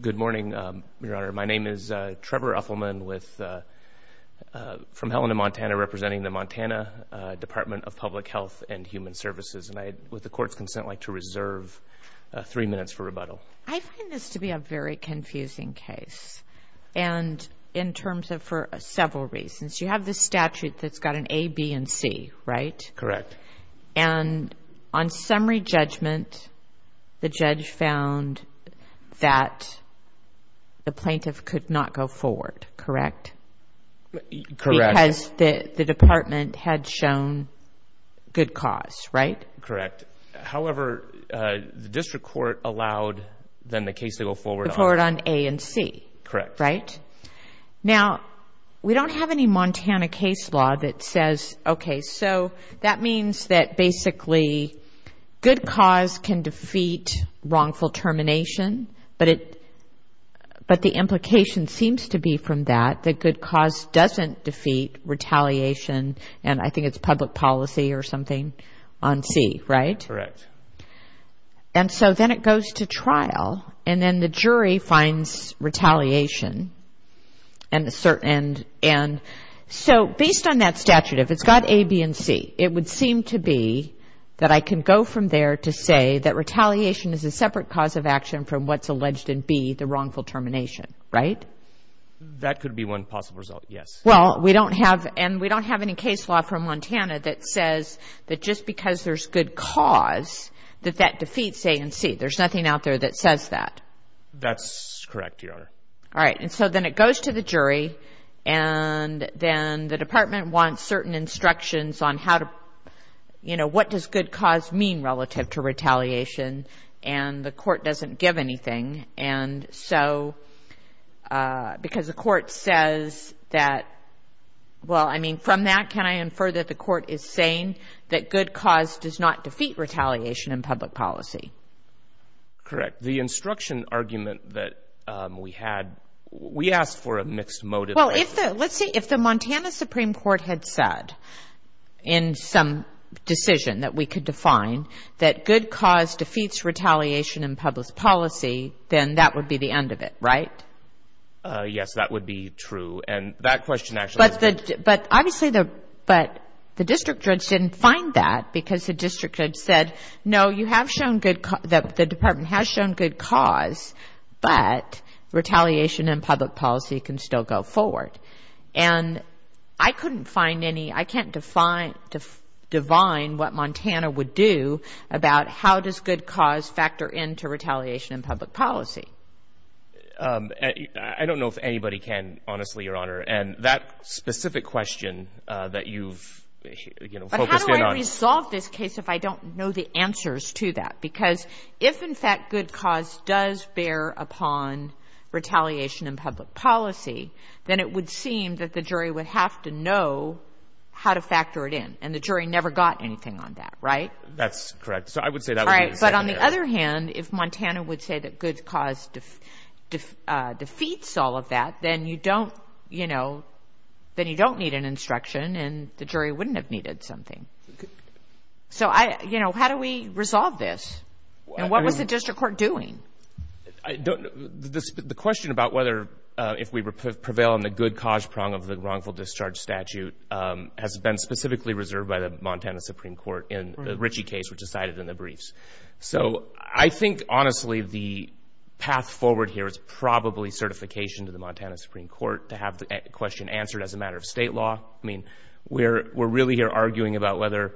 Good morning, Your Honor. My name is Trevor Uffelman from Helena, Montana, representing the Montana Department of Public Health and Human Services, and I, with the Court's consent, would like to reserve three minutes for rebuttal. I find this to be a very confusing case, and in terms of for several reasons. You have the statute that's got an A, B, and C, right? Correct. And on summary judgment, the judge found that the plaintiff could not go forward, correct? Correct. Because the department had shown good cause, right? Correct. However, the district court allowed then the case to go forward on... Go forward on A and C. Correct. Now, we don't have any Montana case law that says, okay, so that means that basically good cause can defeat wrongful termination, but the implication seems to be from that that good cause doesn't defeat retaliation, and I think it's public policy or something on C, right? Correct. And so then it goes to trial, and then the jury finds retaliation, and so based on that statute, if it's got A, B, and C, it would seem to be that I can go from there to say that retaliation is a separate cause of action from what's alleged in B, the wrongful termination, right? That could be one possible result, yes. Well, we don't have, and we don't have any case law from Montana that says that just because there's good cause that that defeats A and C. There's nothing out there that says that. That's correct, Your Honor. All right, and so then it goes to the jury, and then the department wants certain instructions on how to, you know, what does good cause mean relative to retaliation, and the court doesn't give anything, and so, because the court says that, well, I mean, from that, can I infer that the court is saying that good cause does not defeat retaliation in public policy? Correct. The instruction argument that we had, we asked for a mixed motive. Well, if the, let's see, if the Montana Supreme Court had said in some decision that we could define that good cause defeats retaliation in public policy, then that would be the end of it, right? Yes, that would be true, and that question actually. But obviously, the district judge didn't find that, because the district judge said, no, you have shown good, the department has shown good cause, but retaliation in public policy can still go forward, and I couldn't find any, I can't define what Montana would do about how does good cause factor into retaliation in public policy. I don't know if anybody can, honestly, Your Honor, and that specific question that you've, you know, focused in on. But how do I resolve this case if I don't know the answers to that? Because if, in fact, good cause does bear upon retaliation in public policy, then it would seem that the jury would have to know how to factor it in, and the jury never got anything on that, right? That's correct. So I would say that would be the exact answer. And if Montana would say that good cause defeats all of that, then you don't, you know, then you don't need an instruction, and the jury wouldn't have needed something. So I, you know, how do we resolve this? And what was the district court doing? The question about whether, if we prevail on the good cause prong of the wrongful discharge statute has been specifically reserved by the Montana Supreme Court in the Ritchie case, which was cited in the briefs. So I think, honestly, the path forward here is probably certification to the Montana Supreme Court to have the question answered as a matter of state law. I mean, we're really here arguing about whether,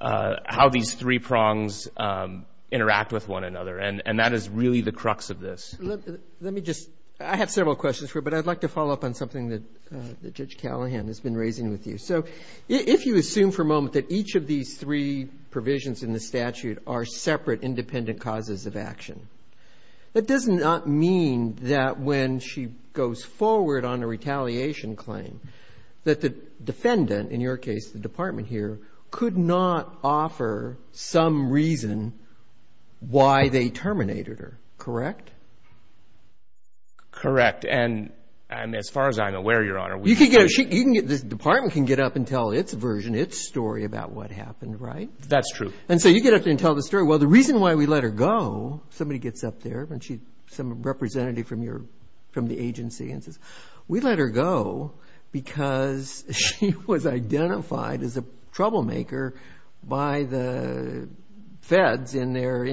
how these three prongs interact with one another, and that is really the crux of this. Let me just, I have several questions for you, but I'd like to follow up on something that Judge Callahan has been raising with you. So if you assume for a moment that each of these three provisions in the statute are separate, independent causes of action, that does not mean that when she goes forward on a retaliation claim that the defendant, in your case, the department here, could not offer some reason why they terminated her, correct? Correct. And as far as I'm aware, Your Honor, we do not. The department can get up and tell its version, its story about what happened, right? That's true. And so you get up there and tell the story, well, the reason why we let her go, somebody gets up there, some representative from the agency, and says, we let her go because she was identified as a troublemaker by the feds in their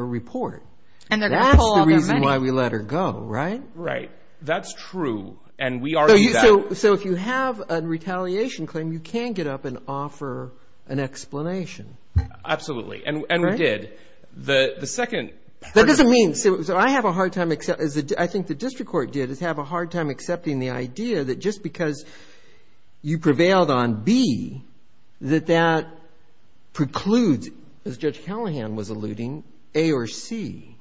report. And they're going to pull all their money. That's the reason why we let her go, right? Right. That's true. And we argue that. So if you have a retaliation claim, you can get up and offer an explanation. Absolutely. And we did. The second part of it. That doesn't mean. So I have a hard time, as I think the district court did, is have a hard time accepting the idea that just because you prevailed on B, that that precludes, as Judge Callahan was alluding, A or C.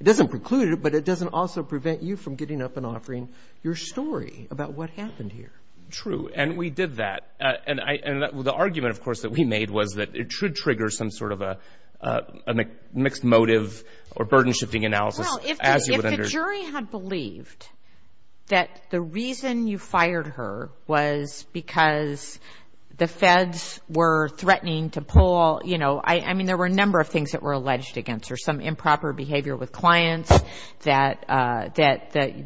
It doesn't preclude it, but it doesn't also prevent you from getting up and offering your story about what happened here. True. And we did that. And the argument, of course, that we made was that it should trigger some sort of a mixed motive or burden-shifting analysis. Well, if the jury had believed that the reason you fired her was because the feds were threatening to pull all, you know, I mean, there were a number of things that were alleged against her. Some improper behavior with clients, that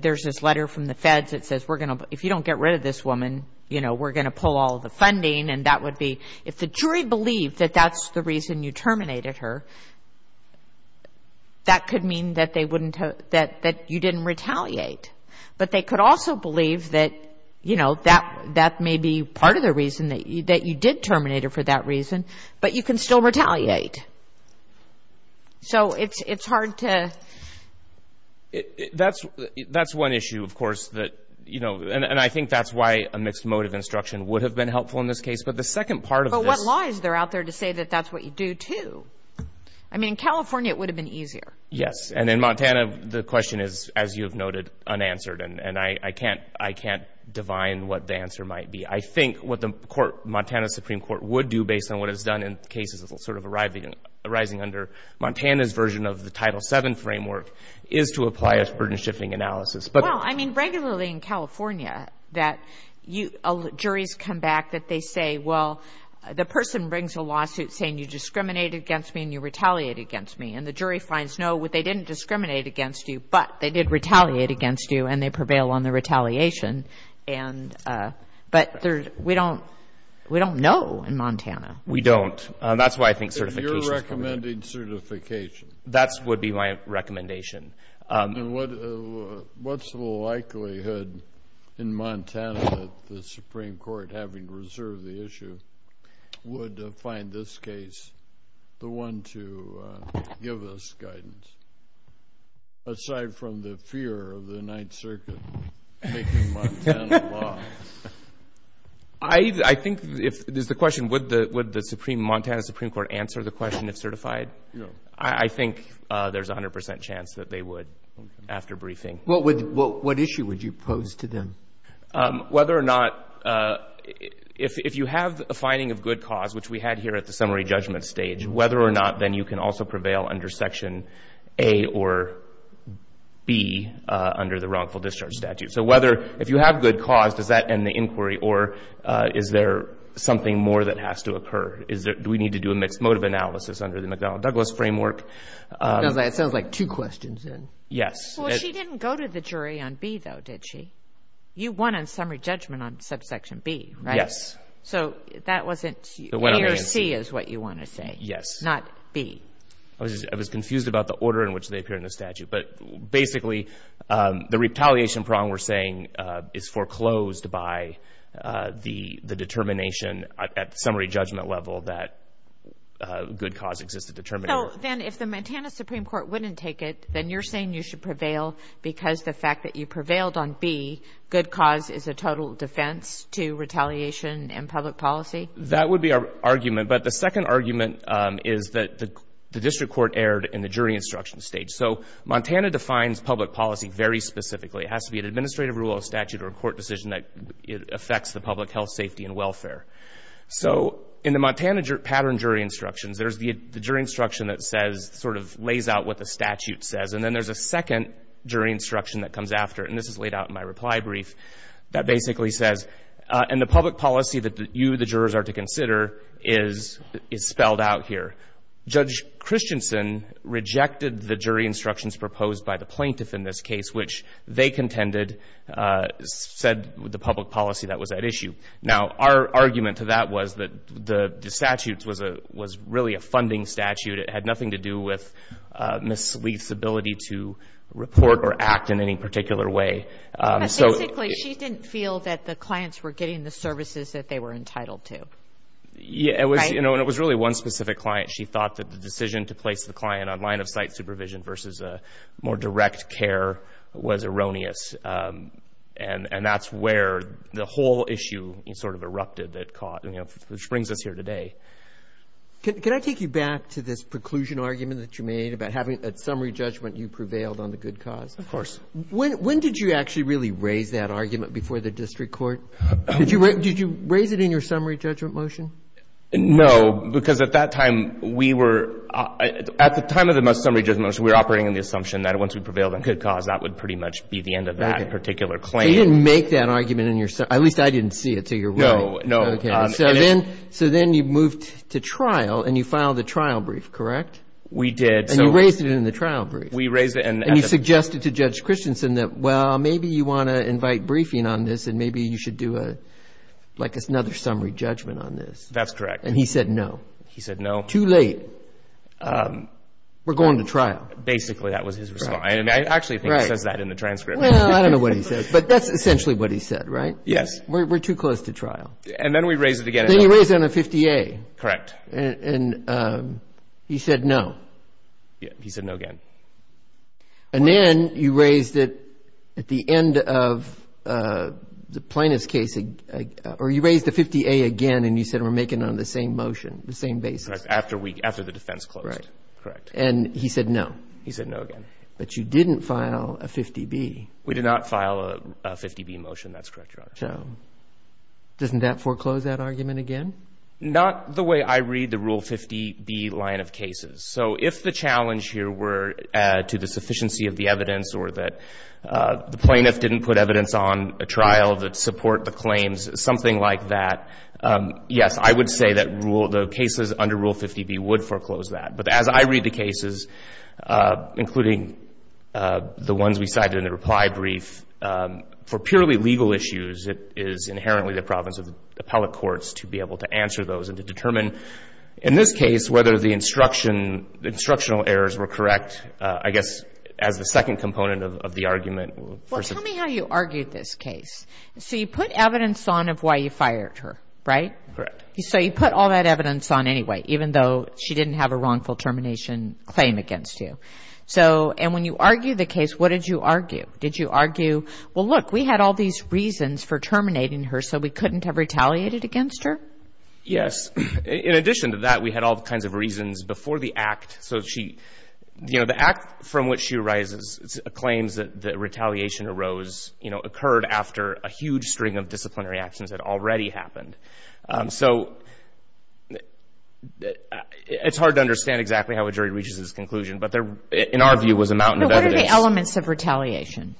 there's this letter from the feds that says, if you don't get rid of this woman, you know, we're going to pull all the funding. And that would be, if the jury believed that that's the reason you terminated her, that could mean that they wouldn't, that you didn't retaliate. But they could also believe that, you know, that may be part of the reason that you did terminate her for that reason, but you can still retaliate. So it's hard to. That's one issue, of course, that, you know, and I think that's why a mixed motive instruction would have been helpful in this case. But the second part of this. But what law is there out there to say that that's what you do, too? I mean, in California, it would have been easier. Yes. And in Montana, the question is, as you have noted, unanswered. And I can't divine what the answer might be. I think what the court, Montana Supreme Court, would do based on what it's done in cases sort of arising under Montana's version of the Title VII framework is to apply a burden-shifting analysis. Well, I mean, regularly in California that juries come back that they say, well, the person brings a lawsuit saying you discriminated against me and you retaliated against me. And the jury finds, no, they didn't discriminate against you, but they did retaliate against you and they prevail on the retaliation. But we don't know in Montana. We don't. That's why I think certification is important. If you're recommending certification. That would be my recommendation. And what's the likelihood in Montana that the Supreme Court, having reserved the issue, would find this case the one to give us guidance, aside from the fear of the Ninth Circuit taking Montana law? I think if there's the question, would the Montana Supreme Court answer the question if certified? Yes. I think there's 100 percent chance that they would after briefing. What issue would you pose to them? Whether or not, if you have a finding of good cause, which we had here at the summary judgment stage, whether or not then you can also prevail under Section A or B under the wrongful discharge statute. So whether, if you have good cause, does that end the inquiry or is there something more that has to occur? Do we need to do a mixed motive analysis under the McDonnell-Douglas framework? It sounds like two questions in. Yes. Well, she didn't go to the jury on B, though, did she? You won on summary judgment on Subsection B, right? Yes. So that wasn't A or C is what you want to say. Yes. Not B. I was confused about the order in which they appear in the statute. But basically, the retaliation problem we're saying is foreclosed by the determination at the summary judgment level that good cause exists to determine. So then if the Montana Supreme Court wouldn't take it, then you're saying you should prevail because the fact that you prevailed on B, good cause is a total defense to retaliation in public policy? That would be our argument. But the second argument is that the district court erred in the jury instruction stage. So Montana defines public policy very specifically. It has to be an administrative rule, a statute, or a court decision that affects the public health, safety, and welfare. So in the Montana pattern jury instructions, there's the jury instruction that sort of lays out what the statute says, and then there's a second jury instruction that comes after it, and this is laid out in my reply brief, that basically says, and the public policy that you, the jurors, are to consider is spelled out here. Judge Christensen rejected the jury instructions proposed by the plaintiff in this case, which they contended said the public policy that was at issue. Now, our argument to that was that the statute was really a funding statute. It had nothing to do with Ms. Leith's ability to report or act in any particular way. But basically, she didn't feel that the clients were getting the services that they were entitled to, right? Yeah, and it was really one specific client. She thought that the decision to place the client on line-of-sight supervision versus a more direct care was erroneous, and that's where the whole issue sort of erupted that caught, which brings us here today. Can I take you back to this preclusion argument that you made about having a summary judgment you prevailed on the good cause? Of course. When did you actually really raise that argument before the district court? Did you raise it in your summary judgment motion? No, because at that time, we were at the time of the summary judgment motion, we were operating on the assumption that once we prevailed on good cause, that would pretty much be the end of that particular claim. So you didn't make that argument in your, at least I didn't see it, so you're right. No, no. Okay, so then you moved to trial, and you filed the trial brief, correct? We did. And you raised it in the trial brief. We raised it. And you suggested to Judge Christensen that, well, maybe you want to invite briefing on this, and maybe you should do like another summary judgment on this. That's correct. And he said no. He said no. Too late. We're going to trial. Basically, that was his response. I actually think he says that in the transcript. Well, I don't know what he says, but that's essentially what he said, right? Yes. We're too close to trial. And then we raised it again. Then you raised it on a 50A. Correct. And he said no. He said no again. And then you raised it at the end of the plaintiff's case, or you raised the 50A again, and you said we're making it on the same motion, the same basis. After the defense closed. Correct. And he said no. He said no again. But you didn't file a 50B. We did not file a 50B motion. That's correct, Your Honor. So doesn't that foreclose that argument again? Not the way I read the Rule 50B line of cases. So if the challenge here were to the sufficiency of the evidence or that the plaintiff didn't put evidence on a trial that support the claims, something like that, yes, I would say that the cases under Rule 50B would foreclose that. But as I read the cases, including the ones we cited in the reply brief, for purely legal issues it is inherently the province of the appellate courts to be able to answer those and to determine, in this case, whether the instructional errors were correct, I guess as the second component of the argument. Well, tell me how you argued this case. So you put evidence on of why you fired her, right? Correct. So you put all that evidence on anyway, even though she didn't have a wrongful termination claim against you. And when you argued the case, what did you argue? Did you argue, well, look, we had all these reasons for terminating her so we couldn't have retaliated against her? Yes. In addition to that, we had all kinds of reasons before the act. So, you know, the act from which she arises claims that retaliation arose, you know, occurred after a huge string of disciplinary actions had already happened. So it's hard to understand exactly how a jury reaches this conclusion, but in our view it was a mountain of evidence. What are the elements of retaliation?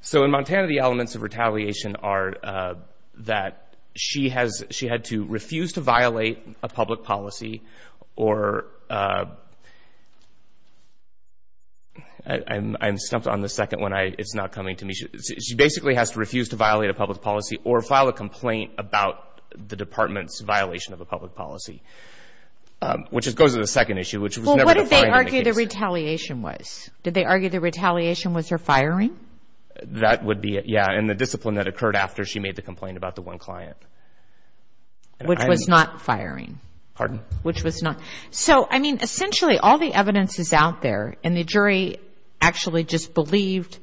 So in Montana, the elements of retaliation are that she had to refuse to violate a public policy or I'm stumped on the second one. It's not coming to me. She basically has to refuse to violate a public policy or file a complaint about the department's violation of a public policy, which goes to the second issue, which was never defined in the case. Well, what did they argue the retaliation was? Did they argue the retaliation was her firing? That would be it, yeah, and the discipline that occurred after she made the complaint about the one client. Which was not firing. Pardon? Which was not. So, I mean, essentially all the evidence is out there and the jury actually just believed.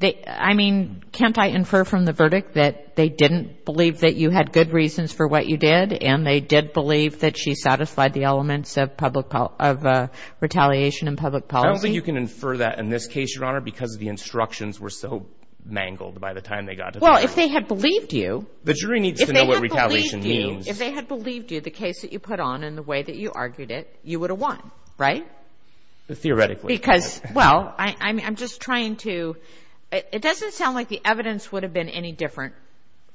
I mean, can't I infer from the verdict that they didn't believe that you had good reasons for what you did and they did believe that she satisfied the elements of retaliation and public policy? I don't think you can infer that in this case, Your Honor, because the instructions were so mangled by the time they got to the court. Well, if they had believed you. The jury needs to know what retaliation means. If they had believed you, the case that you put on and the way that you argued it, you would have won, right? Theoretically. Because, well, I'm just trying to. It doesn't sound like the evidence would have been any different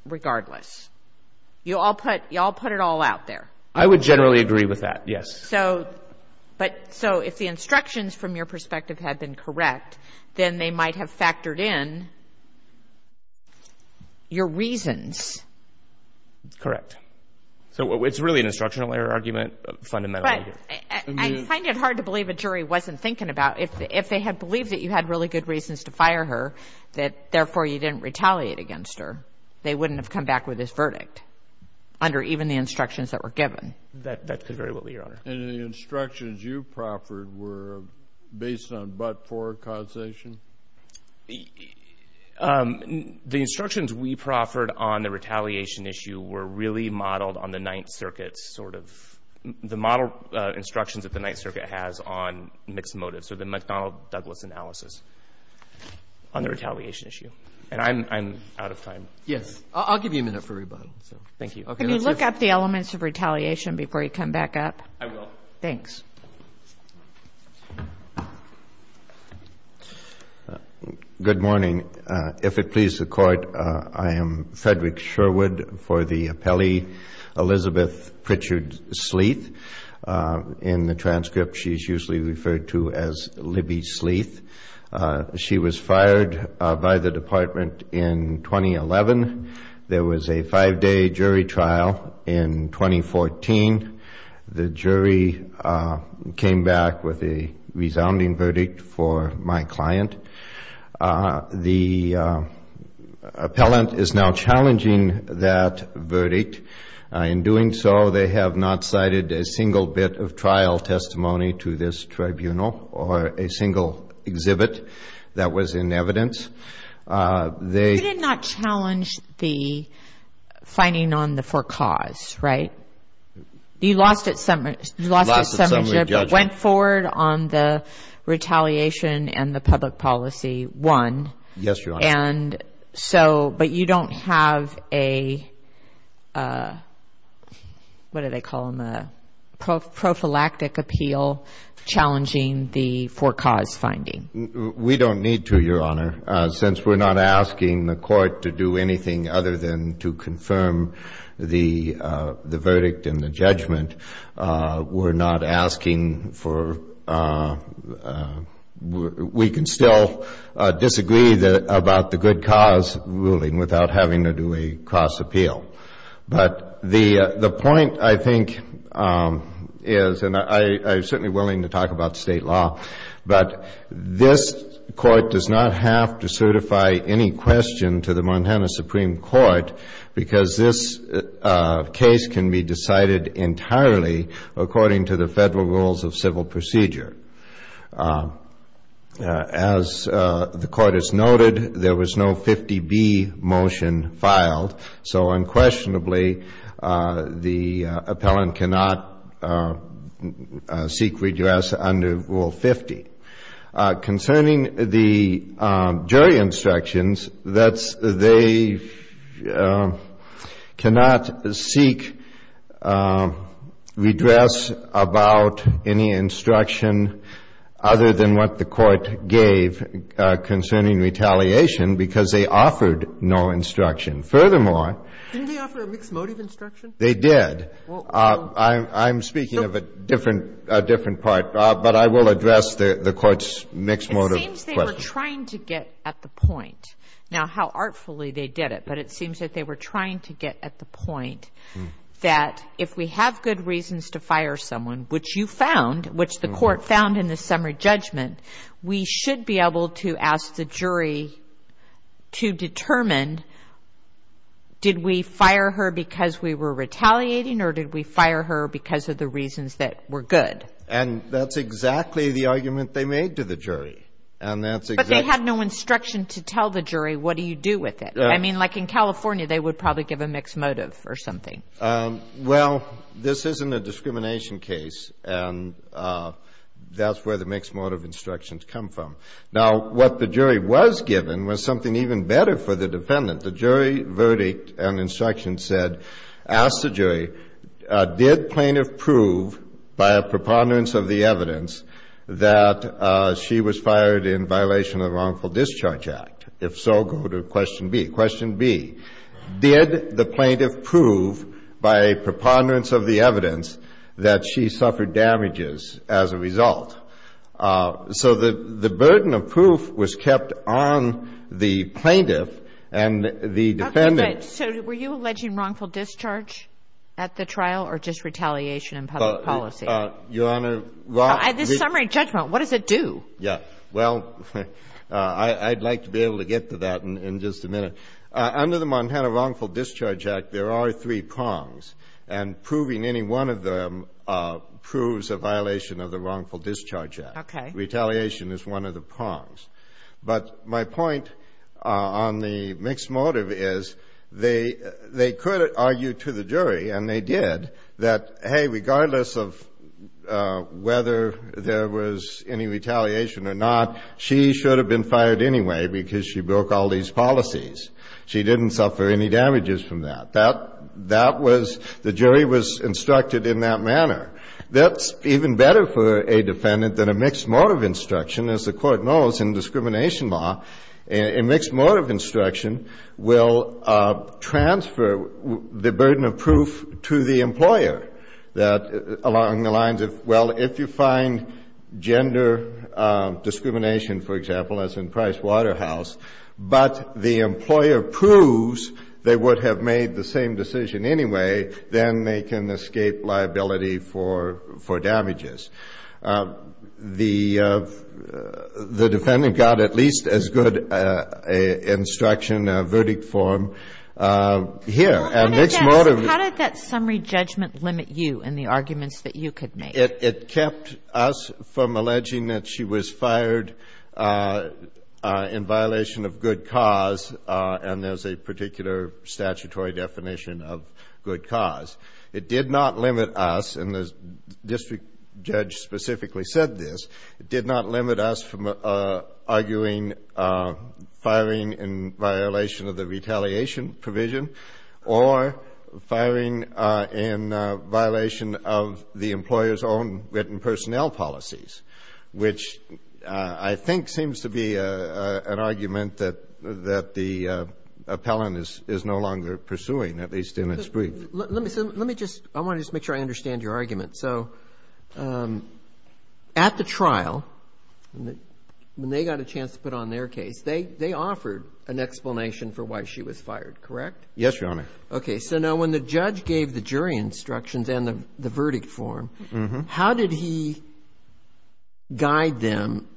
regardless. You all put it all out there. I would generally agree with that, yes. So, but so if the instructions from your perspective had been correct, then they might have factored in your reasons. Correct. So it's really an instructional error argument fundamentally. But I find it hard to believe a jury wasn't thinking about if they had believed that you had really good reasons to fire her, that therefore you didn't retaliate against her, they wouldn't have come back with this verdict under even the instructions that were given. That could very well be, Your Honor. And the instructions you proffered were based on but-for causation? The instructions we proffered on the retaliation issue were really modeled on the Ninth Circuit's sort of, the model instructions that the Ninth Circuit has on mixed motives or the McDonnell-Douglas analysis on the retaliation issue. And I'm out of time. Yes. I'll give you a minute for rebuttal. Thank you. Can you look up the elements of retaliation before you come back up? I will. Thanks. Good morning. If it pleases the Court, I am Frederick Sherwood for the appellee, Elizabeth Pritchard Sleeth. In the transcript, she's usually referred to as Libby Sleeth. She was fired by the Department in 2011. There was a five-day jury trial in 2014. The jury came back with a resounding verdict for my client. The appellant is now challenging that verdict. In doing so, they have not cited a single bit of trial testimony to this tribunal or a single exhibit that was in evidence. You did not challenge the finding on the for cause, right? You lost at summership. Lost at summary judgment. Went forward on the retaliation and the public policy one. Yes, Your Honor. But you don't have a, what do they call them, a prophylactic appeal challenging the for cause finding. We don't need to, Your Honor. Since we're not asking the Court to do anything other than to confirm the verdict and the judgment, we're not asking for, we can still disagree about the good cause ruling without having to do a cross appeal. But the point, I think, is, and I'm certainly willing to talk about state law, but this Court does not have to certify any question to the Montana Supreme Court because this case can be decided entirely according to the federal rules of civil procedure. As the Court has noted, there was no 50B motion filed, so unquestionably the appellant cannot seek redress under Rule 50. Concerning the jury instructions, they cannot seek redress about any instruction other than what the Court gave concerning retaliation because they offered no instruction. Furthermore, they did. I'm speaking of a different part, but I will address the Court's mixed motive question. It seems they were trying to get at the point. Now, how artfully they did it, but it seems that they were trying to get at the point that if we have good reasons to fire someone, which you found, which the Court found in the summary judgment, we should be able to ask the jury to determine did we fire her because we were retaliating or did we fire her because of the reasons that were good. And that's exactly the argument they made to the jury. But they had no instruction to tell the jury what do you do with it. I mean, like in California, they would probably give a mixed motive or something. Well, this isn't a discrimination case, and that's where the mixed motive instructions come from. Now, what the jury was given was something even better for the defendant. The jury verdict and instruction said, ask the jury, did plaintiff prove by a preponderance of the evidence that she was fired in violation of the Wrongful Discharge Act? If so, go to question B. Did the plaintiff prove by a preponderance of the evidence that she suffered damages as a result? So the burden of proof was kept on the plaintiff and the defendant. Okay. But so were you alleging wrongful discharge at the trial or just retaliation in public policy? Your Honor, wrongful. At the summary judgment, what does it do? Yeah. Well, I'd like to be able to get to that in just a minute. Under the Montana Wrongful Discharge Act, there are three prongs, and proving any one of them proves a violation of the Wrongful Discharge Act. Okay. Retaliation is one of the prongs. But my point on the mixed motive is they could argue to the jury, and they did, that, hey, regardless of whether there was any retaliation or not, she should have been fired anyway because she broke all these policies. She didn't suffer any damages from that. That was the jury was instructed in that manner. That's even better for a defendant than a mixed motive instruction. As the Court knows, in discrimination law, a mixed motive instruction will transfer the burden of proof to the employer that, along the lines of, well, if you find gender discrimination, for example, as in Price Waterhouse, but the employer proves they would have made the same decision anyway, then they can escape liability for damages. The defendant got at least as good an instruction, a verdict form here as the How did that summary judgment limit you in the arguments that you could make? It kept us from alleging that she was fired in violation of good cause, and there's a particular statutory definition of good cause. It did not limit us, and the district judge specifically said this, it did not limit us from arguing firing in violation of the retaliation provision or firing in violation of the employer's own written personnel policies, which I think seems to be an argument that the appellant is no longer pursuing, at least in its brief. Let me just – I want to just make sure I understand your argument. So at the trial, when they got a chance to put on their case, they offered an explanation for why she was fired, correct? Yes, Your Honor. Okay. So now when the judge gave the jury instructions and the verdict form, how did he guide them,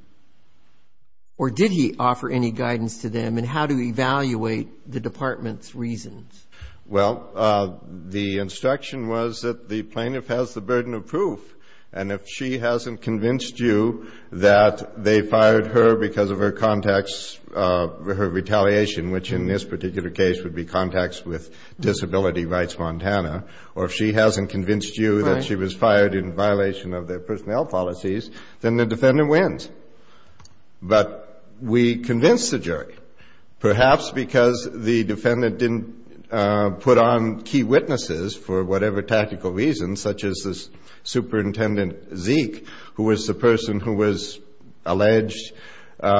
or did he offer any guidance to them in how to evaluate the department's reasons? Well, the instruction was that the plaintiff has the burden of proof, and if she hasn't convinced you that they fired her because of her contacts, her retaliation, which in this particular case would be contacts with Disability Rights Montana, or if she hasn't convinced you that she was fired in violation of their personnel policies, then the defendant wins. But we convinced the jury, perhaps because the defendant didn't put on key witnesses for whatever tactical reason, such as this Superintendent Zeke, who was the person who was alleged by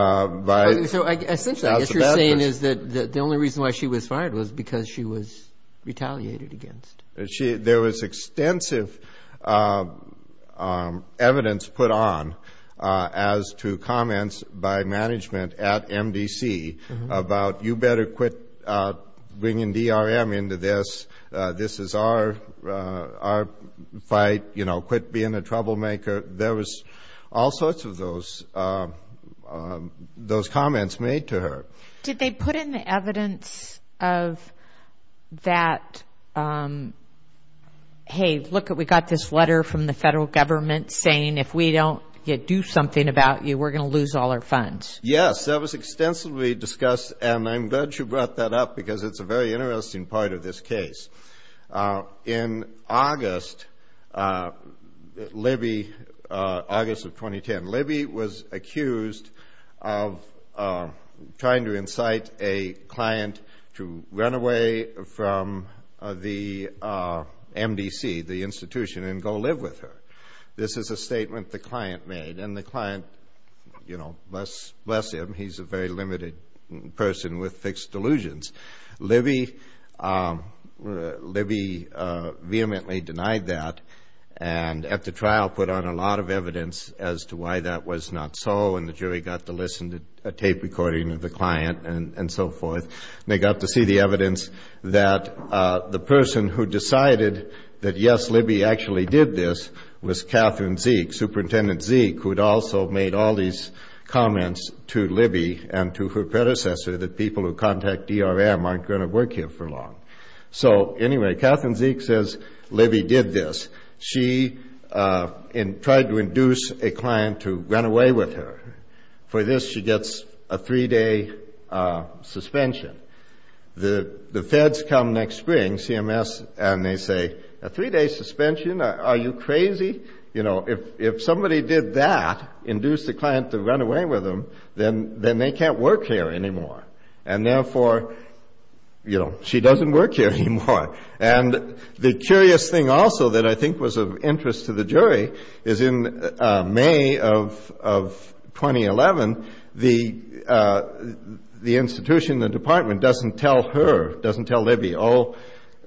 – So essentially what you're saying is that the only reason why she was fired was because she was retaliated against. There was extensive evidence put on as to comments by management at MDC about, you better quit bringing DRM into this. This is our fight. Quit being a troublemaker. There was all sorts of those comments made to her. Did they put in the evidence of that, hey, look, we got this letter from the federal government saying if we don't do something about you, we're going to lose all our funds? Yes. That was extensively discussed, and I'm glad you brought that up because it's a very interesting part of this case. In August, Libby, August of 2010, Libby was accused of trying to incite a client to run away from the MDC, the institution, and go live with her. This is a statement the client made, and the client, you know, bless him, he's a very limited person with fixed delusions. Libby vehemently denied that and at the trial put on a lot of evidence as to why that was not so, and the jury got to listen to a tape recording of the client and so forth. They got to see the evidence that the person who decided that, yes, Libby actually did this was Catherine Zeek, Superintendent Zeek, who had also made all these comments to Libby and to her predecessor that people who contact DRM aren't going to work here for long. So, anyway, Catherine Zeek says Libby did this. She tried to induce a client to run away with her. For this, she gets a three-day suspension. The feds come next spring, CMS, and they say, a three-day suspension? Are you crazy? If somebody did that, induce the client to run away with them, then they can't work here anymore. And, therefore, she doesn't work here anymore. And the curious thing also that I think was of interest to the jury is in May of 2011, the institution, the department, doesn't tell her, doesn't tell Libby, oh,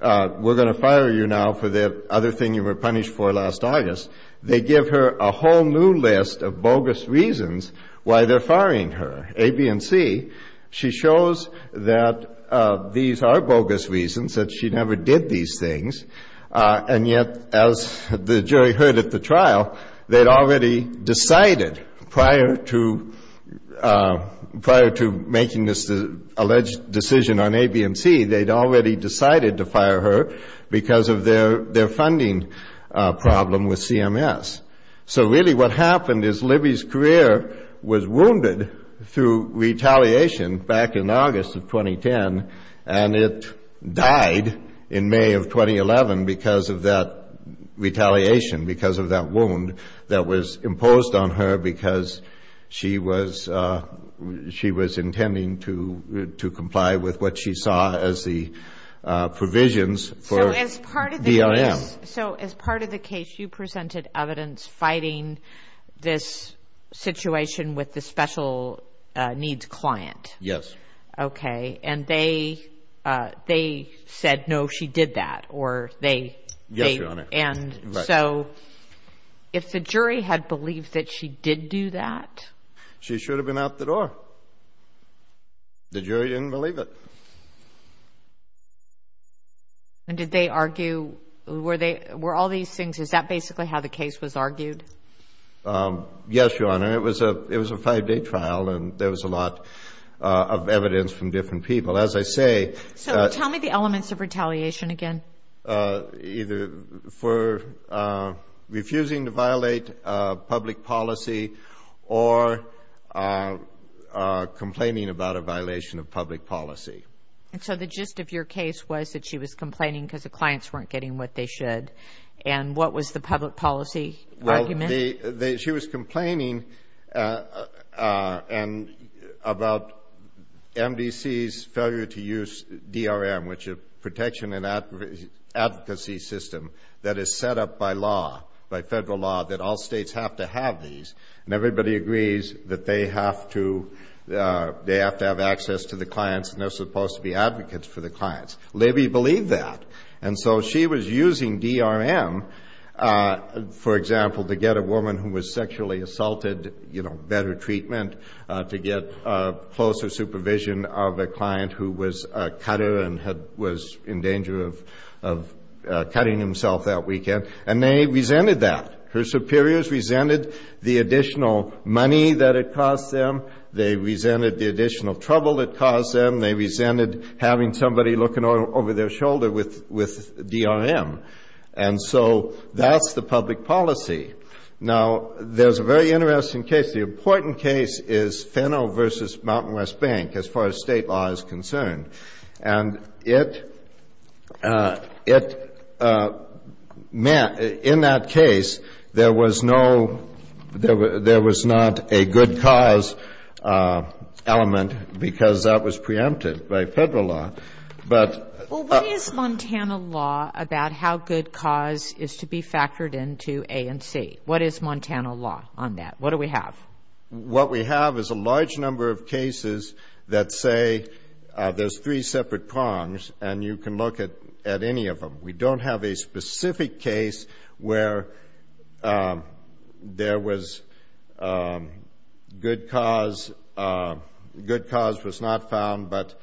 we're going to fire you now for the other thing you were punished for last August. They give her a whole new list of bogus reasons why they're firing her, A, B, and C. She shows that these are bogus reasons, that she never did these things. And yet, as the jury heard at the trial, they'd already decided prior to making this alleged decision on A, B, and C, they'd already decided to fire her because of their funding problem with CMS. So, really, what happened is Libby's career was wounded through retaliation back in August of 2010, and it died in May of 2011 because of that retaliation, because of that wound that was imposed on her because she was intending to comply with what she saw as the provisions for DRM. So, as part of the case, you presented evidence fighting this situation with the special needs client. Yes. Okay. And they said, no, she did that. Yes, Your Honor. And so, if the jury had believed that she did do that. She should have been out the door. The jury didn't believe it. And did they argue, were all these things, is that basically how the case was argued? Yes, Your Honor. It was a five-day trial, and there was a lot of evidence from different people. As I say. So, tell me the elements of retaliation again. Either for refusing to violate public policy or complaining about a violation of public policy. So, the gist of your case was that she was complaining because the clients weren't getting what they should. And what was the public policy argument? She was complaining about MDC's failure to use DRM, which is a protection and advocacy system that is set up by law, by federal law, that all states have to have these. And everybody agrees that they have to have access to the clients, and they're supposed to be advocates for the clients. Libby believed that. And so she was using DRM, for example, to get a woman who was sexually assaulted, you know, better treatment, to get closer supervision of a client who was a cutter and was in danger of cutting himself that weekend. And they resented that. Her superiors resented the additional money that it cost them. They resented the additional trouble it caused them. They resented having somebody looking over their shoulder with DRM. And so that's the public policy. Now, there's a very interesting case. The important case is Fennel v. Mountain West Bank as far as state law is concerned. And it meant in that case there was no ‑‑ there was not a good cause element because that was preempted by federal law. But ‑‑ Well, what is Montana law about how good cause is to be factored into A and C? What is Montana law on that? What do we have? What we have is a large number of cases that say there's three separate prongs and you can look at any of them. We don't have a specific case where there was good cause. Good cause was not found, but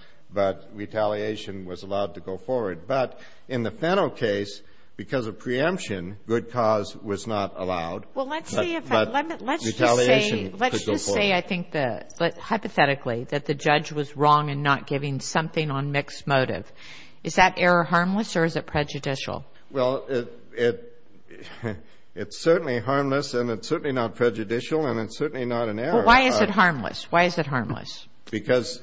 retaliation was allowed to go forward. But in the Fennel case, because of preemption, good cause was not allowed. But retaliation could go forward. Let's just say, I think, hypothetically, that the judge was wrong in not giving something on mixed motive. Is that error harmless or is it prejudicial? Well, it's certainly harmless and it's certainly not prejudicial and it's certainly not an error. Well, why is it harmless? Why is it harmless? Because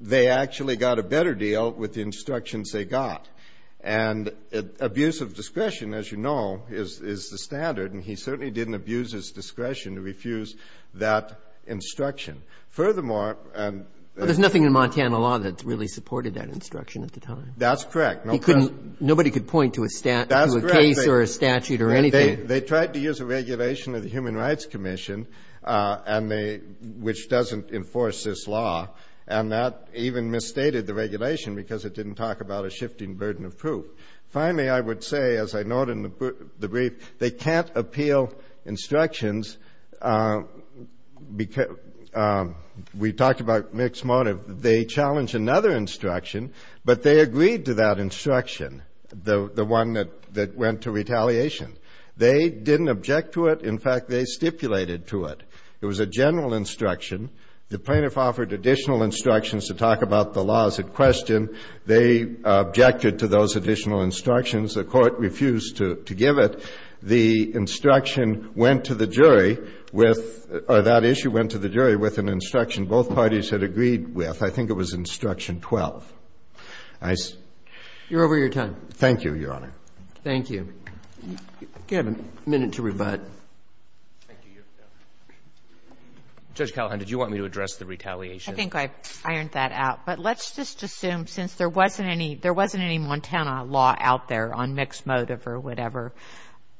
they actually got a better deal with the instructions they got. And abuse of discretion, as you know, is the standard, and he certainly didn't abuse his discretion to refuse that instruction. Furthermore, and the ---- But there's nothing in Montana law that really supported that instruction at the time. That's correct. Nobody could point to a case or a statute or anything. They tried to use a regulation of the Human Rights Commission, which doesn't enforce this law, and that even misstated the regulation because it didn't talk about a shifting burden of proof. Finally, I would say, as I note in the brief, they can't appeal instructions because we talked about mixed motive. They challenged another instruction, but they agreed to that instruction, the one that went to retaliation. They didn't object to it. In fact, they stipulated to it. It was a general instruction. The plaintiff offered additional instructions to talk about the laws at question. They objected to those additional instructions. The Court refused to give it. The instruction went to the jury with or that issue went to the jury with an instruction both parties had agreed with. I think it was instruction 12. I see. You're over your time. Thank you, Your Honor. Thank you. You have a minute to rebut. Thank you, Your Honor. Judge Callahan, did you want me to address the retaliation? I think I've ironed that out. But let's just assume since there wasn't any Montana law out there on mixed motive or whatever,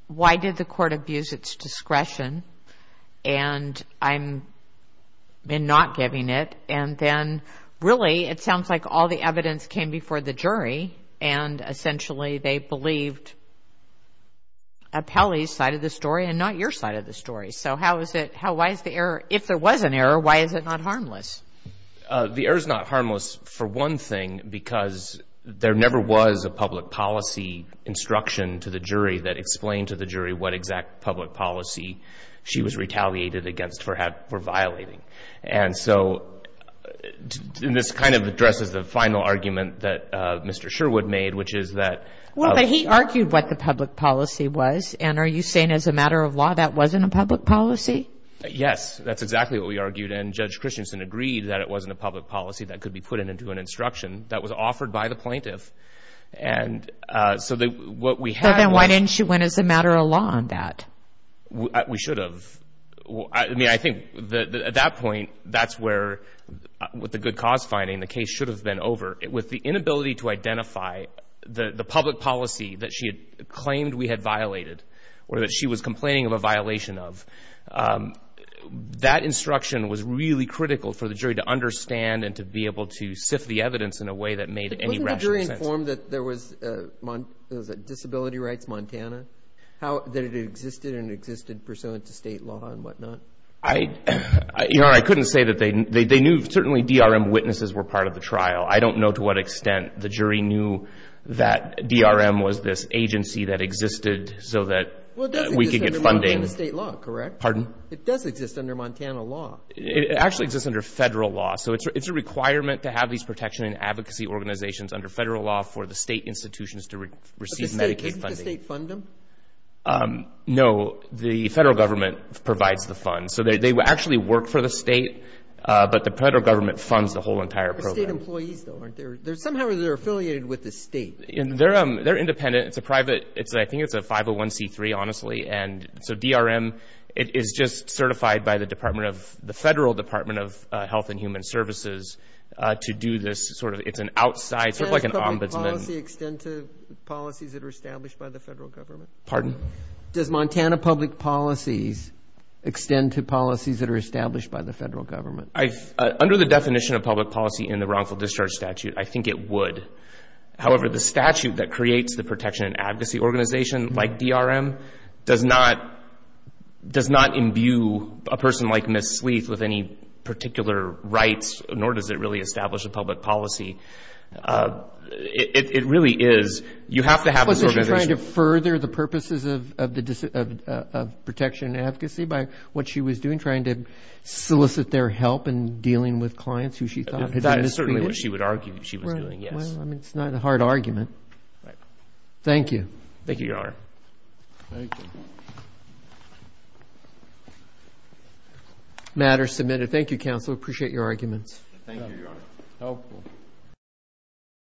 why did the Court abuse its discretion? And I'm not giving it. And then, really, it sounds like all the evidence came before the jury, and essentially they believed Appellee's side of the story and not your side of the story. So how is it? Why is the error? If there was an error, why is it not harmless? The error is not harmless, for one thing, because there never was a public policy instruction to the jury that explained to the jury what exact public policy she was retaliated against for violating. And so this kind of addresses the final argument that Mr. Sherwood made, which is that... Well, but he argued what the public policy was. And are you saying as a matter of law that wasn't a public policy? Yes, that's exactly what we argued. And Judge Christensen agreed that it wasn't a public policy that could be put into an instruction that was offered by the plaintiff. So then why didn't she win as a matter of law on that? We should have. I mean, I think at that point, that's where, with the good cause finding, the case should have been over. With the inability to identify the public policy that she had claimed we had violated or that she was complaining of a violation of, that instruction was really critical for the jury to understand and to be able to sift the evidence in a way that made any rational sense. Wasn't the jury informed that there was disability rights Montana, that it existed and existed pursuant to state law and whatnot? I couldn't say that they knew. Certainly DRM witnesses were part of the trial. I don't know to what extent the jury knew that DRM was this agency that existed so that we could get funding. Well, it does exist under Montana state law, correct? Pardon? It does exist under Montana law. It actually exists under federal law. So it's a requirement to have these protection and advocacy organizations under federal law for the state institutions to receive Medicaid funding. Does the state fund them? No. The federal government provides the funds. So they actually work for the state, but the federal government funds the whole entire program. They're state employees, though, aren't they? Somehow they're affiliated with the state. They're independent. It's a private, I think it's a 501C3, honestly. And so DRM is just certified by the Department of, the Federal Department of Health and Human Services to do this sort of, it's an outside, sort of like an ombudsman. Does public policy extend to policies that are established by the federal government? Pardon? Does Montana public policies extend to policies that are established by the federal government? Under the definition of public policy in the wrongful discharge statute, I think it would. However, the statute that creates the protection and advocacy organization, like DRM, does not imbue a person like Ms. Sleeth with any particular rights, nor does it really establish a public policy. It really is, you have to have this organization. Was she trying to further the purposes of protection and advocacy by what she was doing, trying to solicit their help in dealing with clients who she thought had been misbehaved? That is certainly what she would argue she was doing, yes. Well, I mean, it's not a hard argument. Thank you. Thank you, Your Honor. Thank you. Matter submitted. Thank you, counsel. Appreciate your arguments. Thank you, Your Honor.